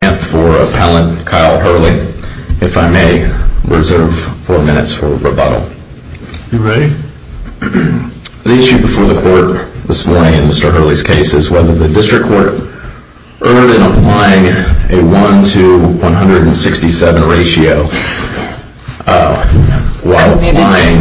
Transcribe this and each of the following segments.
The issue before the court this morning in Mr. Hurley's case is whether the district court erred in applying a 1 to 167 ratio. While applying,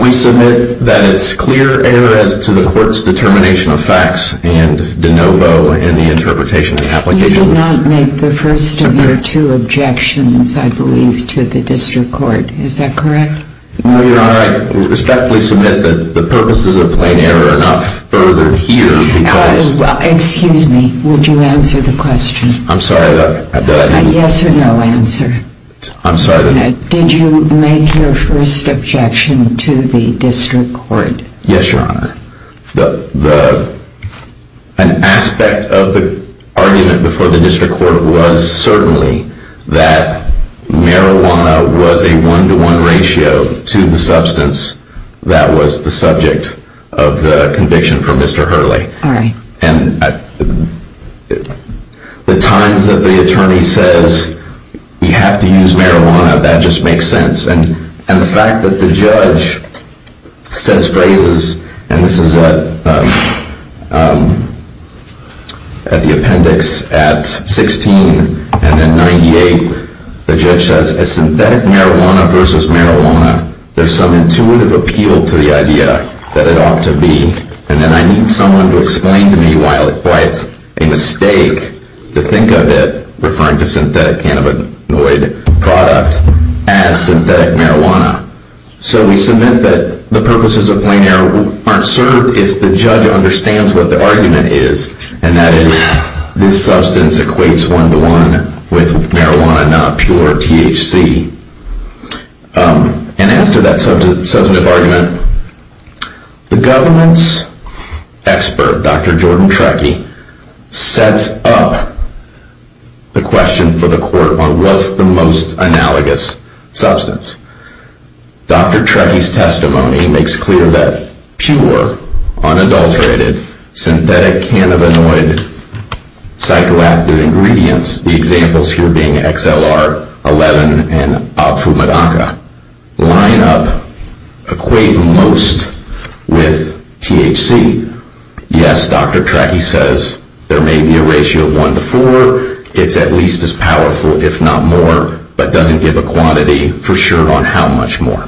we submit that it's clear error as to the court's determination of facts, and de novo in the interpretation and application. You did not make the first of your two objections, I believe, to the district court, is that correct? No, Your Honor, I respectfully submit that the purposes of plain error are not furthered here because... Excuse me, would you answer the question? I'm sorry, did I hear you? Yes or no answer. I'm sorry. Did you make your first objection to the district court? Yes, Your Honor. An aspect of the argument before the district court was certainly that marijuana was a 1 to 1 ratio to the substance that was the subject of the conviction for Mr. Hurley. All right. The times that the attorney says you have to use marijuana, that just makes sense. And the fact that the judge says phrases, and this is at the appendix at 16 and at 98, the judge says, as synthetic marijuana versus marijuana, there's some intuitive appeal to the idea that it ought to be. And then I need someone to explain to me why it's a mistake to think of it, referring to synthetic cannabinoid product, as synthetic marijuana. So we submit that the purposes of plain error aren't served if the judge understands what the argument is, and that is this substance equates 1 to 1 with marijuana, not pure THC. And as to that substantive argument, the government's expert, Dr. Jordan Trekkie, sets up the question for the court on what's the most analogous substance. Dr. Trekkie's testimony makes clear that pure, unadulterated, synthetic cannabinoid psychoactive ingredients, the examples here being XLR-11 and Opfumedaca, line up, equate most with THC. Yes, Dr. Trekkie says there may be a ratio of 1 to 4. It's at least as powerful, if not more, but doesn't give a quantity for sure on how much more.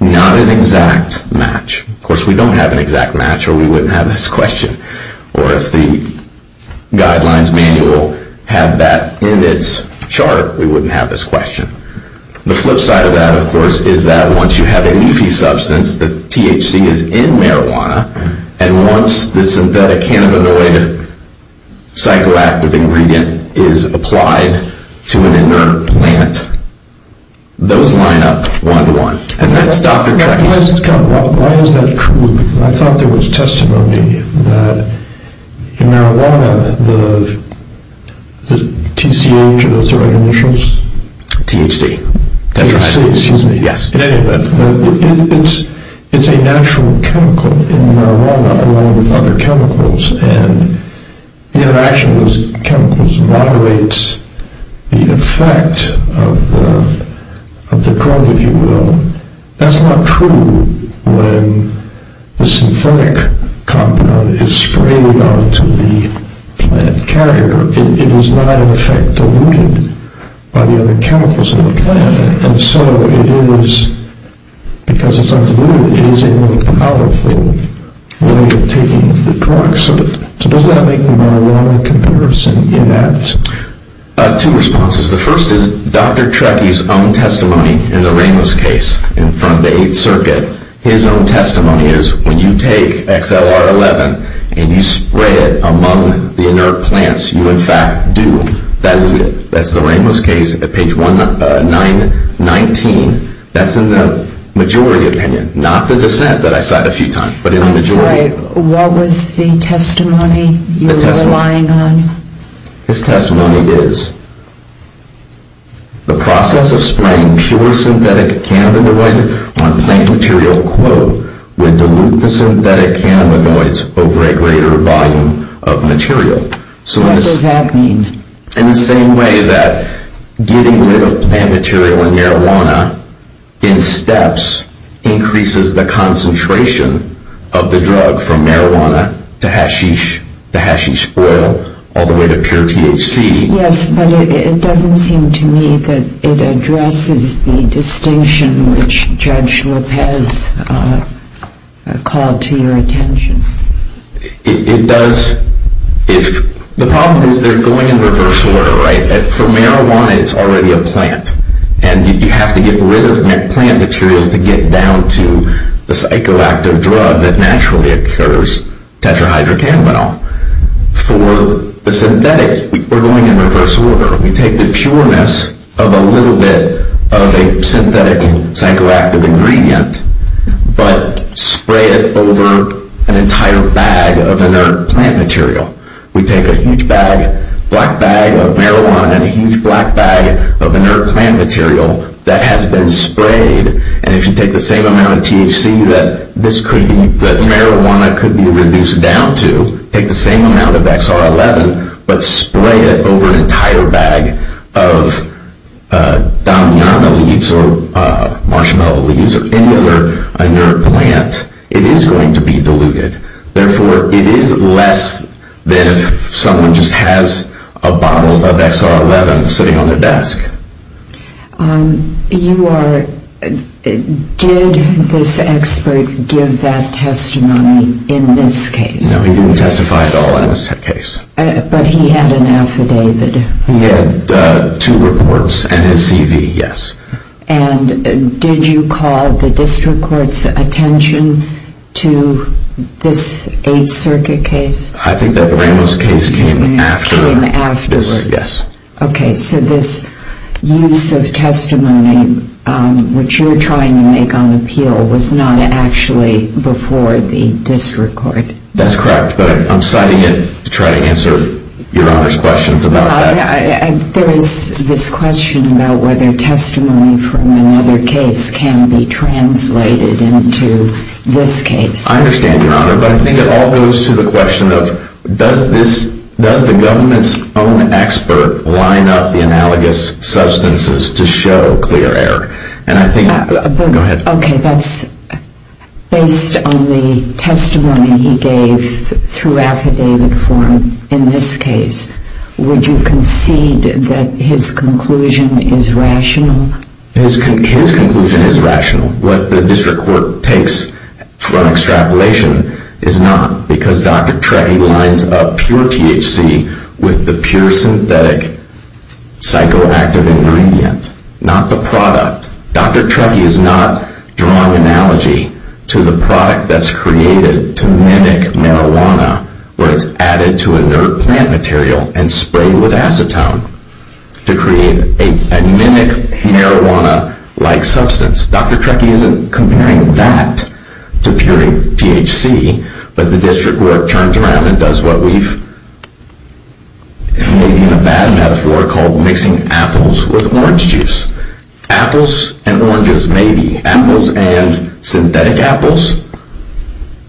Not an exact match. Of course, we don't have an exact match, or we wouldn't have this question. Or if the guidelines manual had that in its chart, we wouldn't have this question. The flip side of that, of course, is that once you have a leafy substance, the THC is in marijuana, and once the synthetic cannabinoid psychoactive ingredient is applied to an inert plant, those line up 1 to 1. And that's Dr. Trekkie's testimony, that in marijuana, the TCH, are those the right initials? THC, that's right. THC, excuse me. Yes, in any event. It's a natural chemical in marijuana, along with other chemicals, and the interaction of those chemicals moderates the effect of the drug, if you will. That's not true when the synthetic compound is sprayed onto the plant carrier. It is not, in effect, diluted by the other chemicals in the plant. And so it is, because it's not diluted, it is a more powerful way of taking the drugs. So does that make the marijuana comparison inept? Two responses. The first is Dr. Trekkie's own testimony in the Ramos case in front of the 8th Circuit. His own testimony is, when you take XLR-11 and you spray it among the inert plants, you in fact do dilute it. That's the Ramos case at page 919. That's in the majority opinion, not the dissent that I cited a few times. That's right. What was the testimony you were relying on? His testimony is, the process of spraying pure synthetic cannabinoid on plant material, quote, would dilute the synthetic cannabinoids over a greater volume of material. What does that mean? In the same way that getting rid of plant material and marijuana in steps increases the concentration of the drug from marijuana to hashish, the hashish oil, all the way to pure THC. Yes, but it doesn't seem to me that it addresses the distinction which Judge Lopez called to your attention. The problem is they're going in reverse order, right? For marijuana, it's already a plant, and you have to get rid of plant material to get down to the psychoactive drug that naturally occurs, tetrahydrocannabinol. For the synthetic, we're going in reverse order. We take the pureness of a little bit of a synthetic and psychoactive ingredient, but spray it over an entire bag of inert plant material. We take a huge bag, black bag of marijuana and a huge black bag of inert plant material that has been sprayed, and if you take the same amount of THC that marijuana could be reduced down to, take the same amount of XR-11, but spray it over an entire bag of Damiana leaves or marshmallow leaves or any other inert plant, it is going to be diluted. Therefore, it is less than if someone just has a bottle of XR-11 sitting on their desk. Did this expert give that testimony in this case? No, he didn't testify at all in this case. But he had an affidavit? He had two reports and his CV, yes. And did you call the district court's attention to this 8th Circuit case? I think that Ramos case came after this, yes. Okay, so this use of testimony which you're trying to make on appeal was not actually before the district court? That's correct, but I'm citing it to try to answer Your Honor's questions about that. There is this question about whether testimony from another case can be translated into this case. I understand, Your Honor, but I think it all goes to the question of does the government's own expert line up the analogous substances to show clear error? Okay, that's based on the testimony he gave through affidavit form in this case. Would you concede that his conclusion is rational? His conclusion is rational. What the district court takes from extrapolation is not because Dr. Trekkie lines up pure THC with the pure synthetic psychoactive ingredient, not the product. Dr. Trekkie is not drawing analogy to the product that's created to mimic marijuana where it's added to inert plant material and sprayed with acetone to create a mimic marijuana-like substance. Dr. Trekkie isn't comparing that to pure THC, but the district court turns around and does what we've maybe in a bad metaphor called mixing apples with orange juice. Apples and oranges, maybe. Apples and synthetic apples,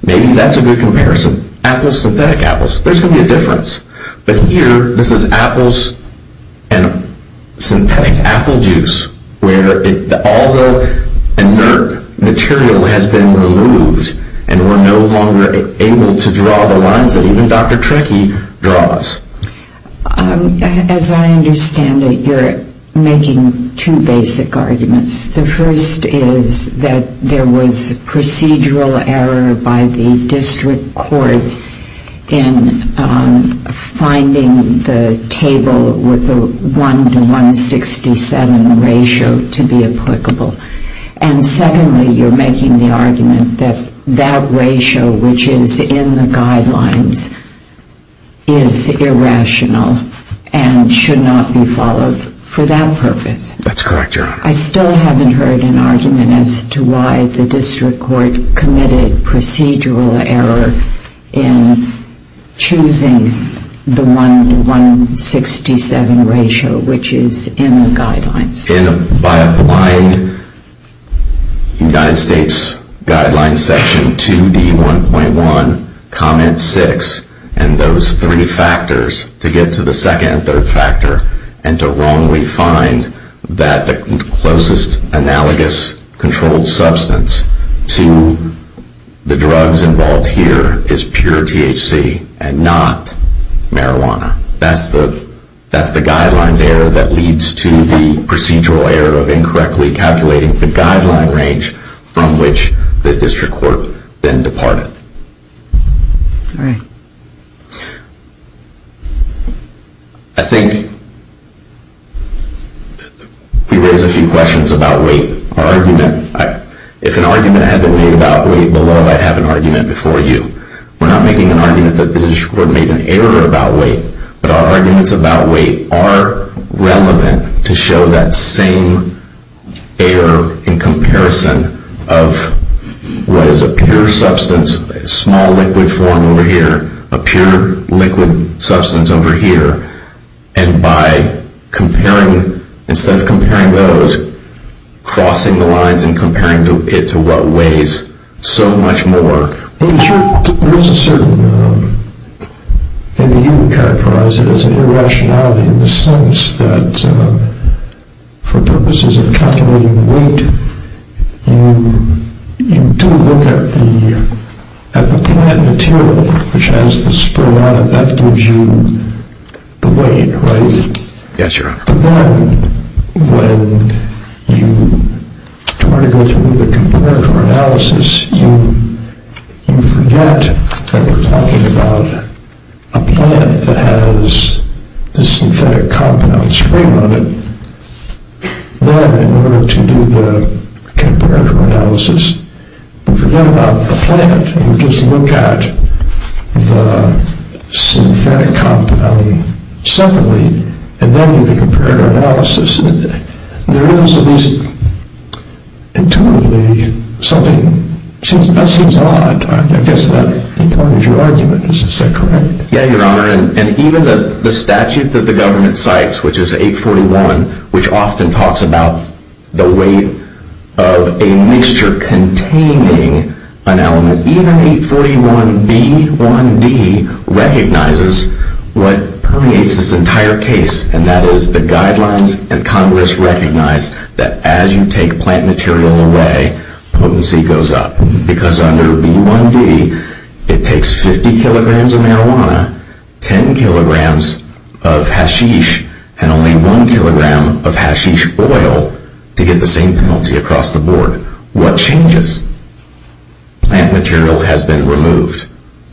maybe that's a good comparison. Apples, synthetic apples, there's going to be a difference. But here, this is apples and synthetic apple juice where all the inert material has been removed and we're no longer able to draw the lines that even Dr. Trekkie draws. As I understand it, you're making two basic arguments. The first is that there was procedural error by the district court in finding the table with the 1 to 167 ratio to be applicable. And secondly, you're making the argument that that ratio, which is in the guidelines, is irrational and should not be followed for that purpose. That's correct, Your Honor. I still haven't heard an argument as to why the district court committed procedural error in choosing the 1 to 167 ratio, which is in the guidelines. By applying United States Guidelines section 2D1.1, comment 6, and those three factors to get to the second and third factor and to wrongly find that the closest analogous controlled substance to the drugs involved here is pure THC and not marijuana. That's the guidelines error that leads to the procedural error of incorrectly calculating the guideline range from which the district court then departed. All right. I think we raise a few questions about weight. If an argument had been made about weight below, I'd have an argument before you. We're not making an argument that the district court made an error about weight, but our arguments about weight are relevant to show that same error in comparison of what is a pure substance, a small liquid form over here, a pure liquid substance over here, and by comparing, instead of comparing those, crossing the lines and comparing it to what weighs so much more. There is a certain, maybe you would characterize it as an irrationality in the sense that for the purposes of calculating weight, you do look at the plant material, which has the spray on it. That gives you the weight, right? Yes, Your Honor. But then when you try to go through the component or analysis, you forget that we're talking about a plant that has a synthetic compound spray on it. Then in order to do the comparative analysis, you forget about the plant and you just look at the synthetic compound separately and then do the comparative analysis. There is at least intuitively something, that seems odd. I guess that becomes your argument, is that correct? Yes, Your Honor. Even the statute that the government cites, which is 841, which often talks about the weight of a mixture containing an element, even 841B1D recognizes what permeates this entire case, and that is the guidelines and Congress recognize that as you take plant material away, potency goes up. Because under B1D, it takes 50 kilograms of marijuana, 10 kilograms of hashish, and only 1 kilogram of hashish oil to get the same penalty across the board. What changes? Plant material has been removed.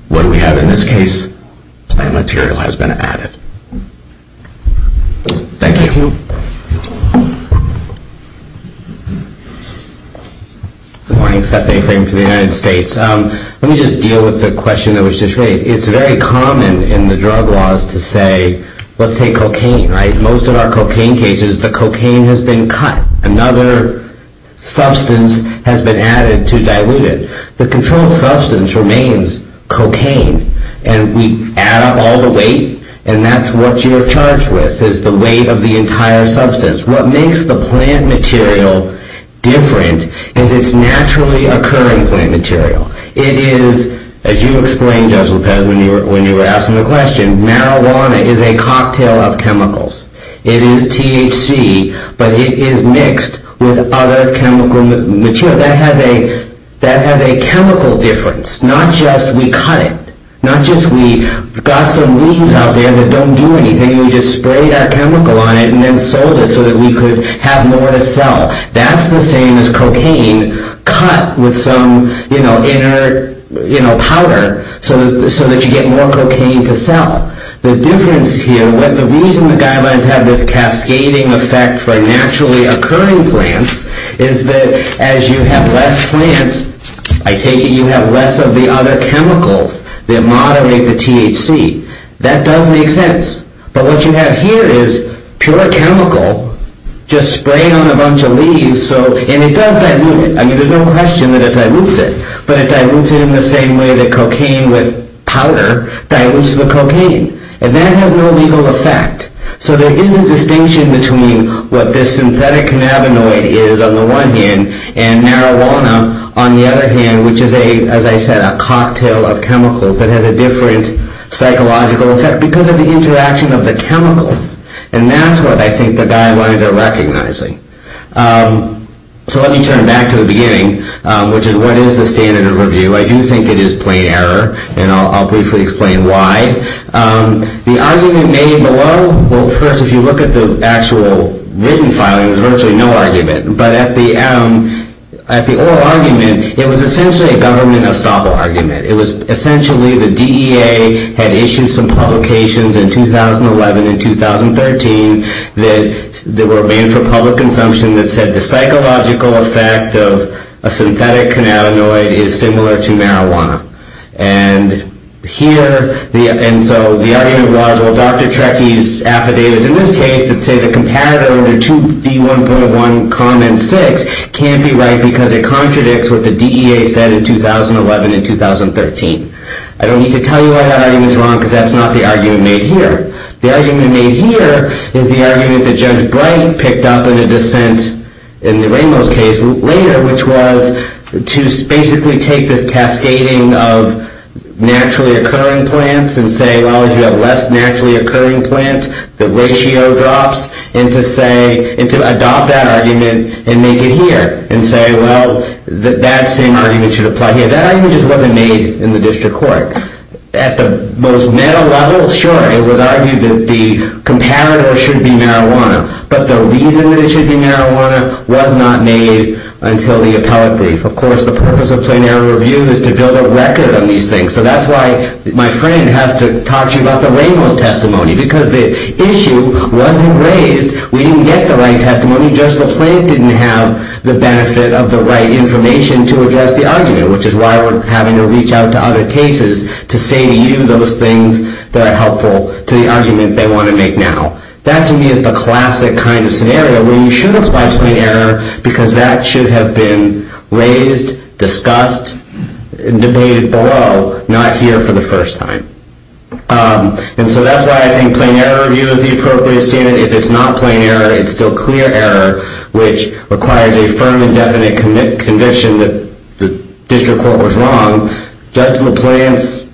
What do we have in this case? Plant material has been added. Thank you. Good morning. Stephanie Frame from the United States. Let me just deal with the question that was just raised. It's very common in the drug laws to say, let's take cocaine. Most of our cocaine cases, the cocaine has been cut. Another substance has been added to dilute it. The controlled substance remains cocaine, and we add up all the weight, and that's what you're charged with. It's the weight of the entire substance. What makes the plant material different is it's naturally occurring plant material. It is, as you explained, Judge Lopez, when you were asking the question, marijuana is a cocktail of chemicals. It is THC, but it is mixed with other chemical material. That has a chemical difference, not just we cut it, not just we got some leaves out there that don't do anything. We just sprayed our chemical on it and then sold it so that we could have more to sell. That's the same as cocaine cut with some inner powder so that you get more cocaine to sell. The difference here, the reason the guidelines have this cascading effect for naturally occurring plants is that as you have less plants, I take it you have less of the other chemicals that moderate the THC. That does make sense, but what you have here is pure chemical just sprayed on a bunch of leaves, and it does dilute it. There's no question that it dilutes it, but it dilutes it in the same way that cocaine with powder dilutes the cocaine, and that has no legal effect. There is a distinction between what this synthetic cannabinoid is on the one hand and marijuana on the other hand, which is, as I said, a cocktail of chemicals that has a different psychological effect because of the interaction of the chemicals, and that's what I think the guidelines are recognizing. So let me turn back to the beginning, which is what is the standard of review? I do think it is plain error, and I'll briefly explain why. The argument made below, well, first, if you look at the actual written filing, there's essentially a government estoppel argument. It was essentially the DEA had issued some publications in 2011 and 2013 that were made for public consumption that said the psychological effect of a synthetic cannabinoid is similar to marijuana, and so the argument was, well, Dr. Trecky's affidavit in this case would say the competitor under 2D1.1, comment 6, can't be right because it contradicts what the DEA said in 2011 and 2013. I don't need to tell you I have arguments wrong because that's not the argument made here. The argument made here is the argument that Judge Bright picked up in a dissent in the Ramos case later, which was to basically take this cascading of naturally occurring plants and say, well, if you have less naturally occurring plant, the ratio drops, and to adopt that argument and make it here, and say, well, that same argument should apply here. That argument just wasn't made in the district court. At the most meta level, sure, it was argued that the competitor should be marijuana, but the reason that it should be marijuana was not made until the appellate brief. Of course, the purpose of plain error review is to build a record on these things, so that's why my friend has to talk to you about the Ramos testimony, because the issue wasn't raised. We didn't get the right testimony. Judge LaPlante didn't have the benefit of the right information to address the argument, which is why we're having to reach out to other cases to say to you those things that are helpful to the argument they want to make now. That, to me, is the classic kind of scenario where you should apply plain error because that should have been raised, discussed, and debated below, not here for the first time. And so that's why I think plain error review is the appropriate standard. If it's not plain error, it's still clear error, which requires a firm and definite conviction that the district court was wrong. Judge LaPlante's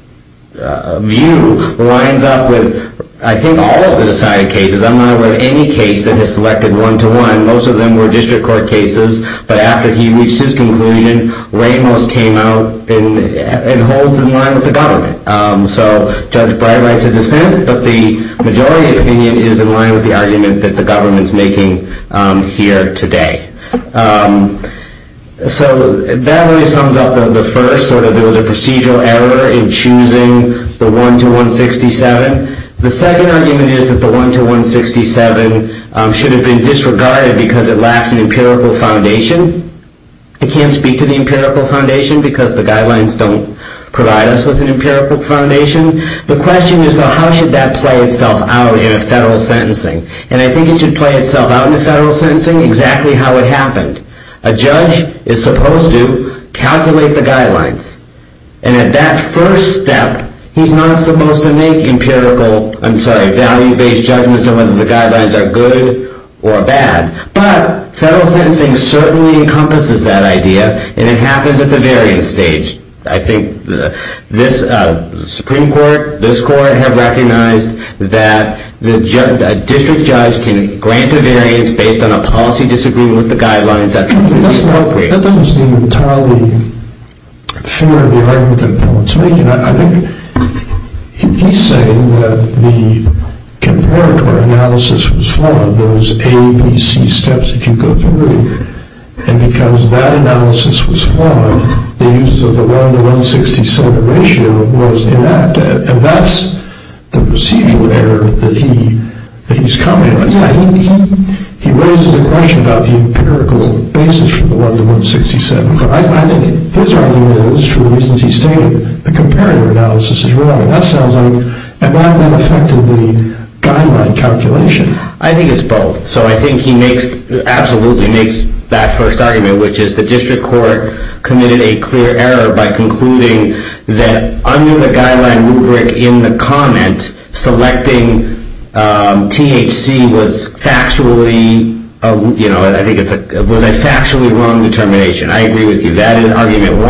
view lines up with, I think, all of the decided cases. I'm not aware of any case that has selected one-to-one. Most of them were district court cases. But after he reached his conclusion, Ramos came out and holds in line with the government. So Judge Brey writes a dissent, but the majority opinion is in line with the argument that the government's making here today. So that really sums up the first. There was a procedural error in choosing the one-to-one 67. The second argument is that the one-to-one 67 should have been disregarded because it lacks an empirical foundation. I can't speak to the empirical foundation because the guidelines don't provide us with an empirical foundation. The question is, well, how should that play itself out in a federal sentencing? And I think it should play itself out in a federal sentencing exactly how it happened. A judge is supposed to calculate the guidelines. And at that first step, he's not supposed to make value-based judgments on whether the guidelines are good or bad. But federal sentencing certainly encompasses that idea. And it happens at the variance stage. I think this Supreme Court, this court, have recognized that a district judge can grant a variance based on a policy disagreement with the guidelines. That doesn't seem entirely fair in the argument that Paul is making. I think he's saying that the converter analysis was flawed, those ABC steps that you go through. And because that analysis was flawed, the use of the one-to-one 67 ratio was inept. And that's the procedural error that he's commenting on. He raises the question about the empirical basis for the one-to-one 67. But I think his argument is, for the reasons he stated, the comparator analysis is wrong. That sounds like an effect of the guideline calculation. I think it's both. So I think he absolutely makes that first argument, which is the district court committed a clear error by concluding that under the guideline rubric in the comment, selecting THC was a factually wrong determination. I agree with you. That is argument one.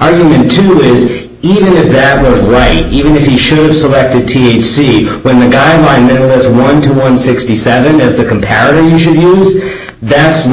Argument two is, even if that was right, even if he should have selected THC, when the guideline meant it was one-to-one 67 as the comparator you should use, that's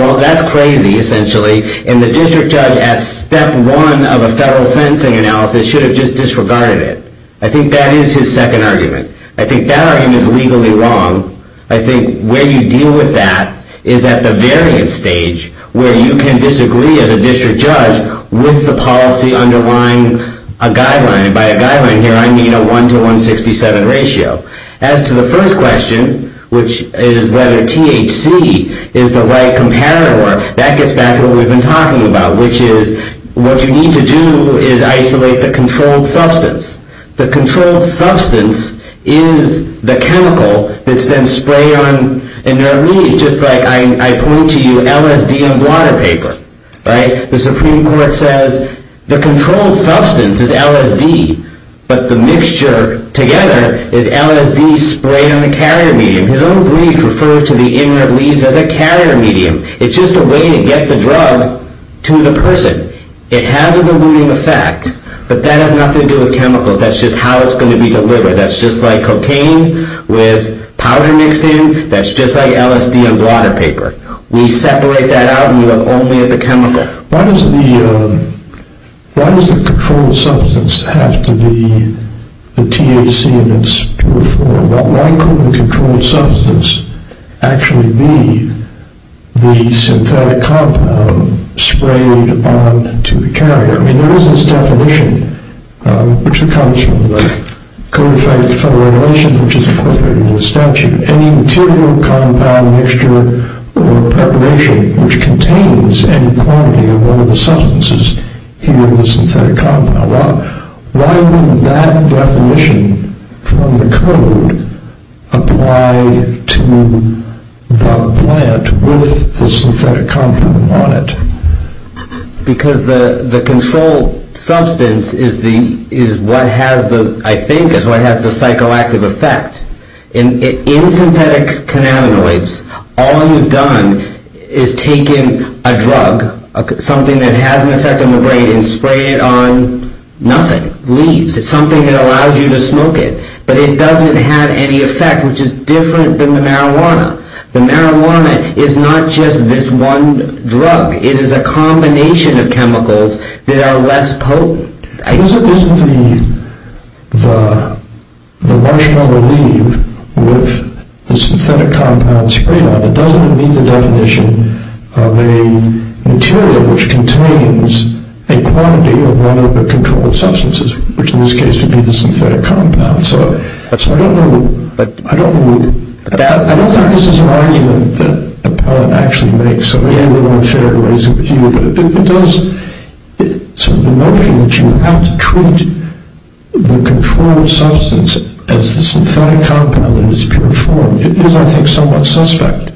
crazy, essentially. And the district judge, at step one of a federal sentencing analysis, should have just disregarded it. I think that is his second argument. I think that argument is legally wrong. I think where you deal with that is at the variance stage, where you can disagree as a district judge with the policy underlying a guideline. And by a guideline here, I mean a one-to-one 67 ratio. As to the first question, which is whether THC is the right comparator, that gets back to what we've been talking about, which is what you need to do is isolate the controlled substance. The controlled substance is the chemical that's then sprayed on in their leaves, just like I point to you LSD on water paper. The Supreme Court says the controlled substance is LSD, but the mixture together is LSD sprayed on the carrier medium. His own brief refers to the inner leaves as a carrier medium. It's just a way to get the drug to the person. It has a diluting effect, but that has nothing to do with chemicals. That's just how it's going to be delivered. That's just like cocaine with powder mixed in. That's just like LSD on water paper. We separate that out, and we look only at the chemical. Why does the controlled substance have to be the THC in its pure form? Why couldn't the controlled substance actually be the synthetic compound sprayed onto the carrier? I mean, there is this definition, which comes from the Code of Federal Regulations, which is incorporated in the statute. Any material, compound, mixture, or preparation which contains any quantity of one of the substances here in the synthetic compound. Why would that definition from the Code apply to the plant with the synthetic compound on it? Because the controlled substance is what has the, I think, is what has the psychoactive effect. In synthetic cannabinoids, all you've done is taken a drug, something that has an effect on the brain, and sprayed it on nothing, leaves. It's something that allows you to smoke it, but it doesn't have any effect, which is different than the marijuana. The marijuana is not just this one drug. It is a combination of chemicals that are less potent. Isn't the marshmallow leaf with the synthetic compound sprayed on it, it doesn't meet the definition of a material which contains a quantity of one of the controlled substances, which in this case would be the synthetic compound. So I don't know. I don't think this is an argument that the plant actually makes. So, yeah, a little unfair to raise it with you, but it does. So the notion that you have to treat the controlled substance as the synthetic compound in its pure form, is, I think, somewhat suspect.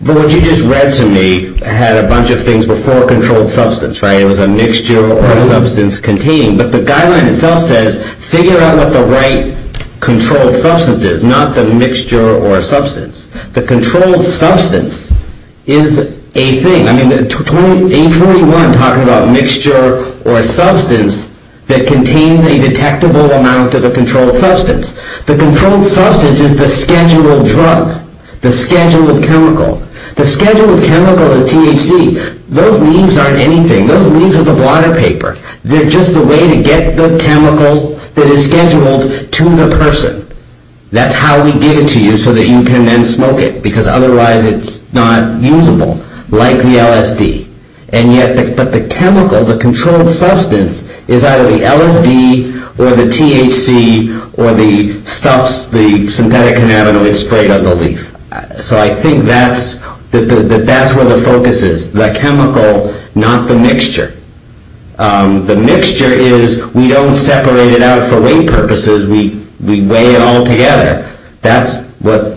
But what you just read to me had a bunch of things before controlled substance, right? It was a mixture or substance contained. But the guideline itself says figure out what the right controlled substance is, not the mixture or substance. The controlled substance is a thing. I mean, 841 talking about mixture or substance that contains a detectable amount of a controlled substance. The controlled substance is the scheduled drug, the scheduled chemical. The scheduled chemical is THC. Those leaves aren't anything. Those leaves are the water paper. They're just the way to get the chemical that is scheduled to the person. That's how we give it to you so that you can then smoke it, because otherwise it's not usable, like the LSD. But the chemical, the controlled substance, is either the LSD or the THC or the stuff, the synthetic cannabinoids sprayed on the leaf. So I think that's where the focus is, the chemical, not the mixture. The mixture is we don't separate it out for weight purposes. We weigh it all together. That's what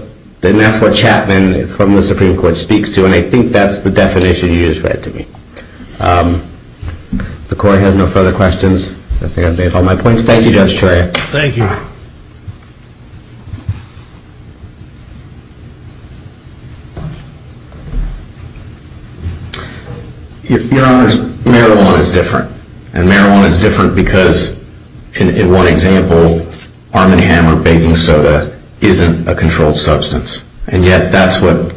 Chapman from the Supreme Court speaks to, and I think that's the definition you just read to me. If the Court has no further questions, I think I've made all my points. Thank you, Judge Trier. Thank you. Your Honors, marijuana is different. And marijuana is different because, in one example, Arm & Hammer baking soda isn't a controlled substance. And yet that's what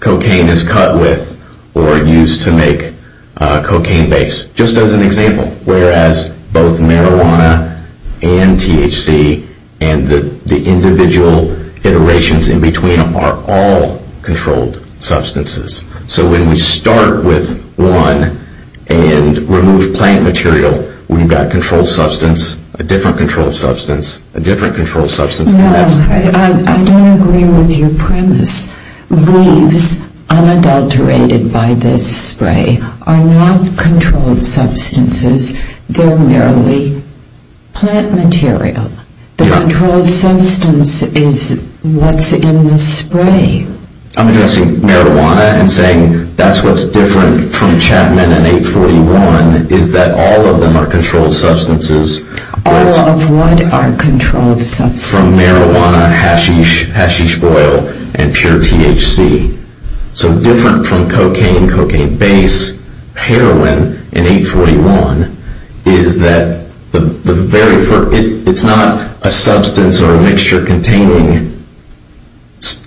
cocaine is cut with or used to make cocaine base, just as an example. Whereas both marijuana and THC and the individual iterations in between are all controlled substances. So when we start with one and remove plant material, we've got a controlled substance, a different controlled substance, a different controlled substance. I don't agree with your premise. Leaves, unadulterated by this spray, are not controlled substances. They're merely plant material. The controlled substance is what's in the spray. I'm addressing marijuana and saying that's what's different from Chapman and 841, is that all of them are controlled substances. All of what are controlled substances? From marijuana, hashish oil, and pure THC. So different from cocaine, cocaine base, heroin, and 841, is that it's not a substance or a mixture containing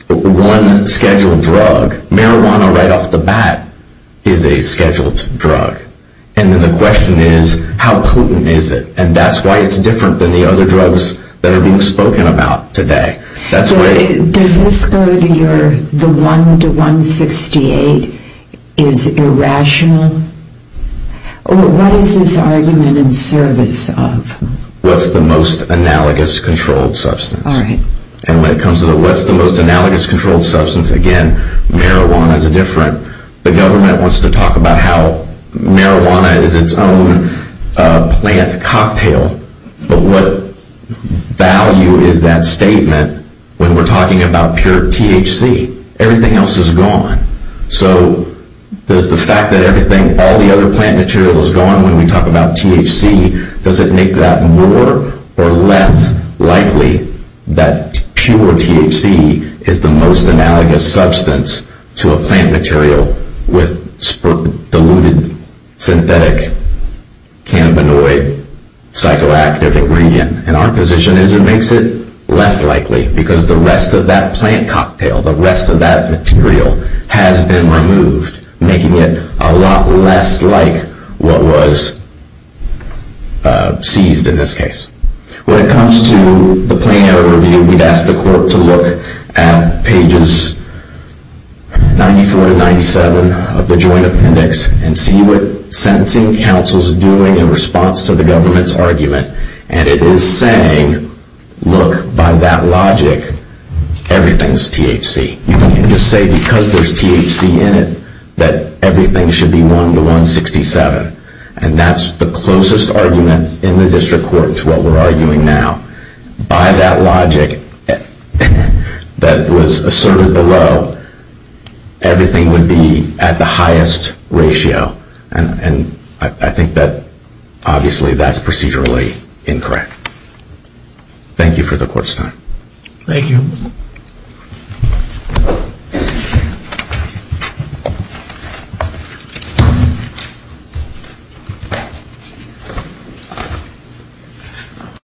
one scheduled drug. Marijuana, right off the bat, is a scheduled drug. And then the question is, how potent is it? And that's why it's different than the other drugs that are being spoken about today. Does this go to your, the 1 to 168 is irrational? What is this argument in service of? What's the most analogous controlled substance? All right. And when it comes to the what's the most analogous controlled substance, again, the government wants to talk about how marijuana is its own plant cocktail. But what value is that statement when we're talking about pure THC? Everything else is gone. So does the fact that all the other plant material is gone when we talk about THC, does it make that more or less likely that pure THC is the most analogous substance to a plant material with diluted synthetic cannabinoid psychoactive ingredient? And our position is it makes it less likely, because the rest of that plant cocktail, the rest of that material has been removed, making it a lot less like what was seized in this case. When it comes to the plain error review, we'd ask the court to look at pages 94 to 97 of the Joint Appendix and see what sentencing counsel's doing in response to the government's argument. And it is saying, look, by that logic, everything's THC. You can't just say because there's THC in it that everything should be 1 to 167. And that's the closest argument in the district court to what we're arguing now. By that logic that was asserted below, everything would be at the highest ratio. And I think that, obviously, that's procedurally incorrect. Thank you for the court's time. Thank you.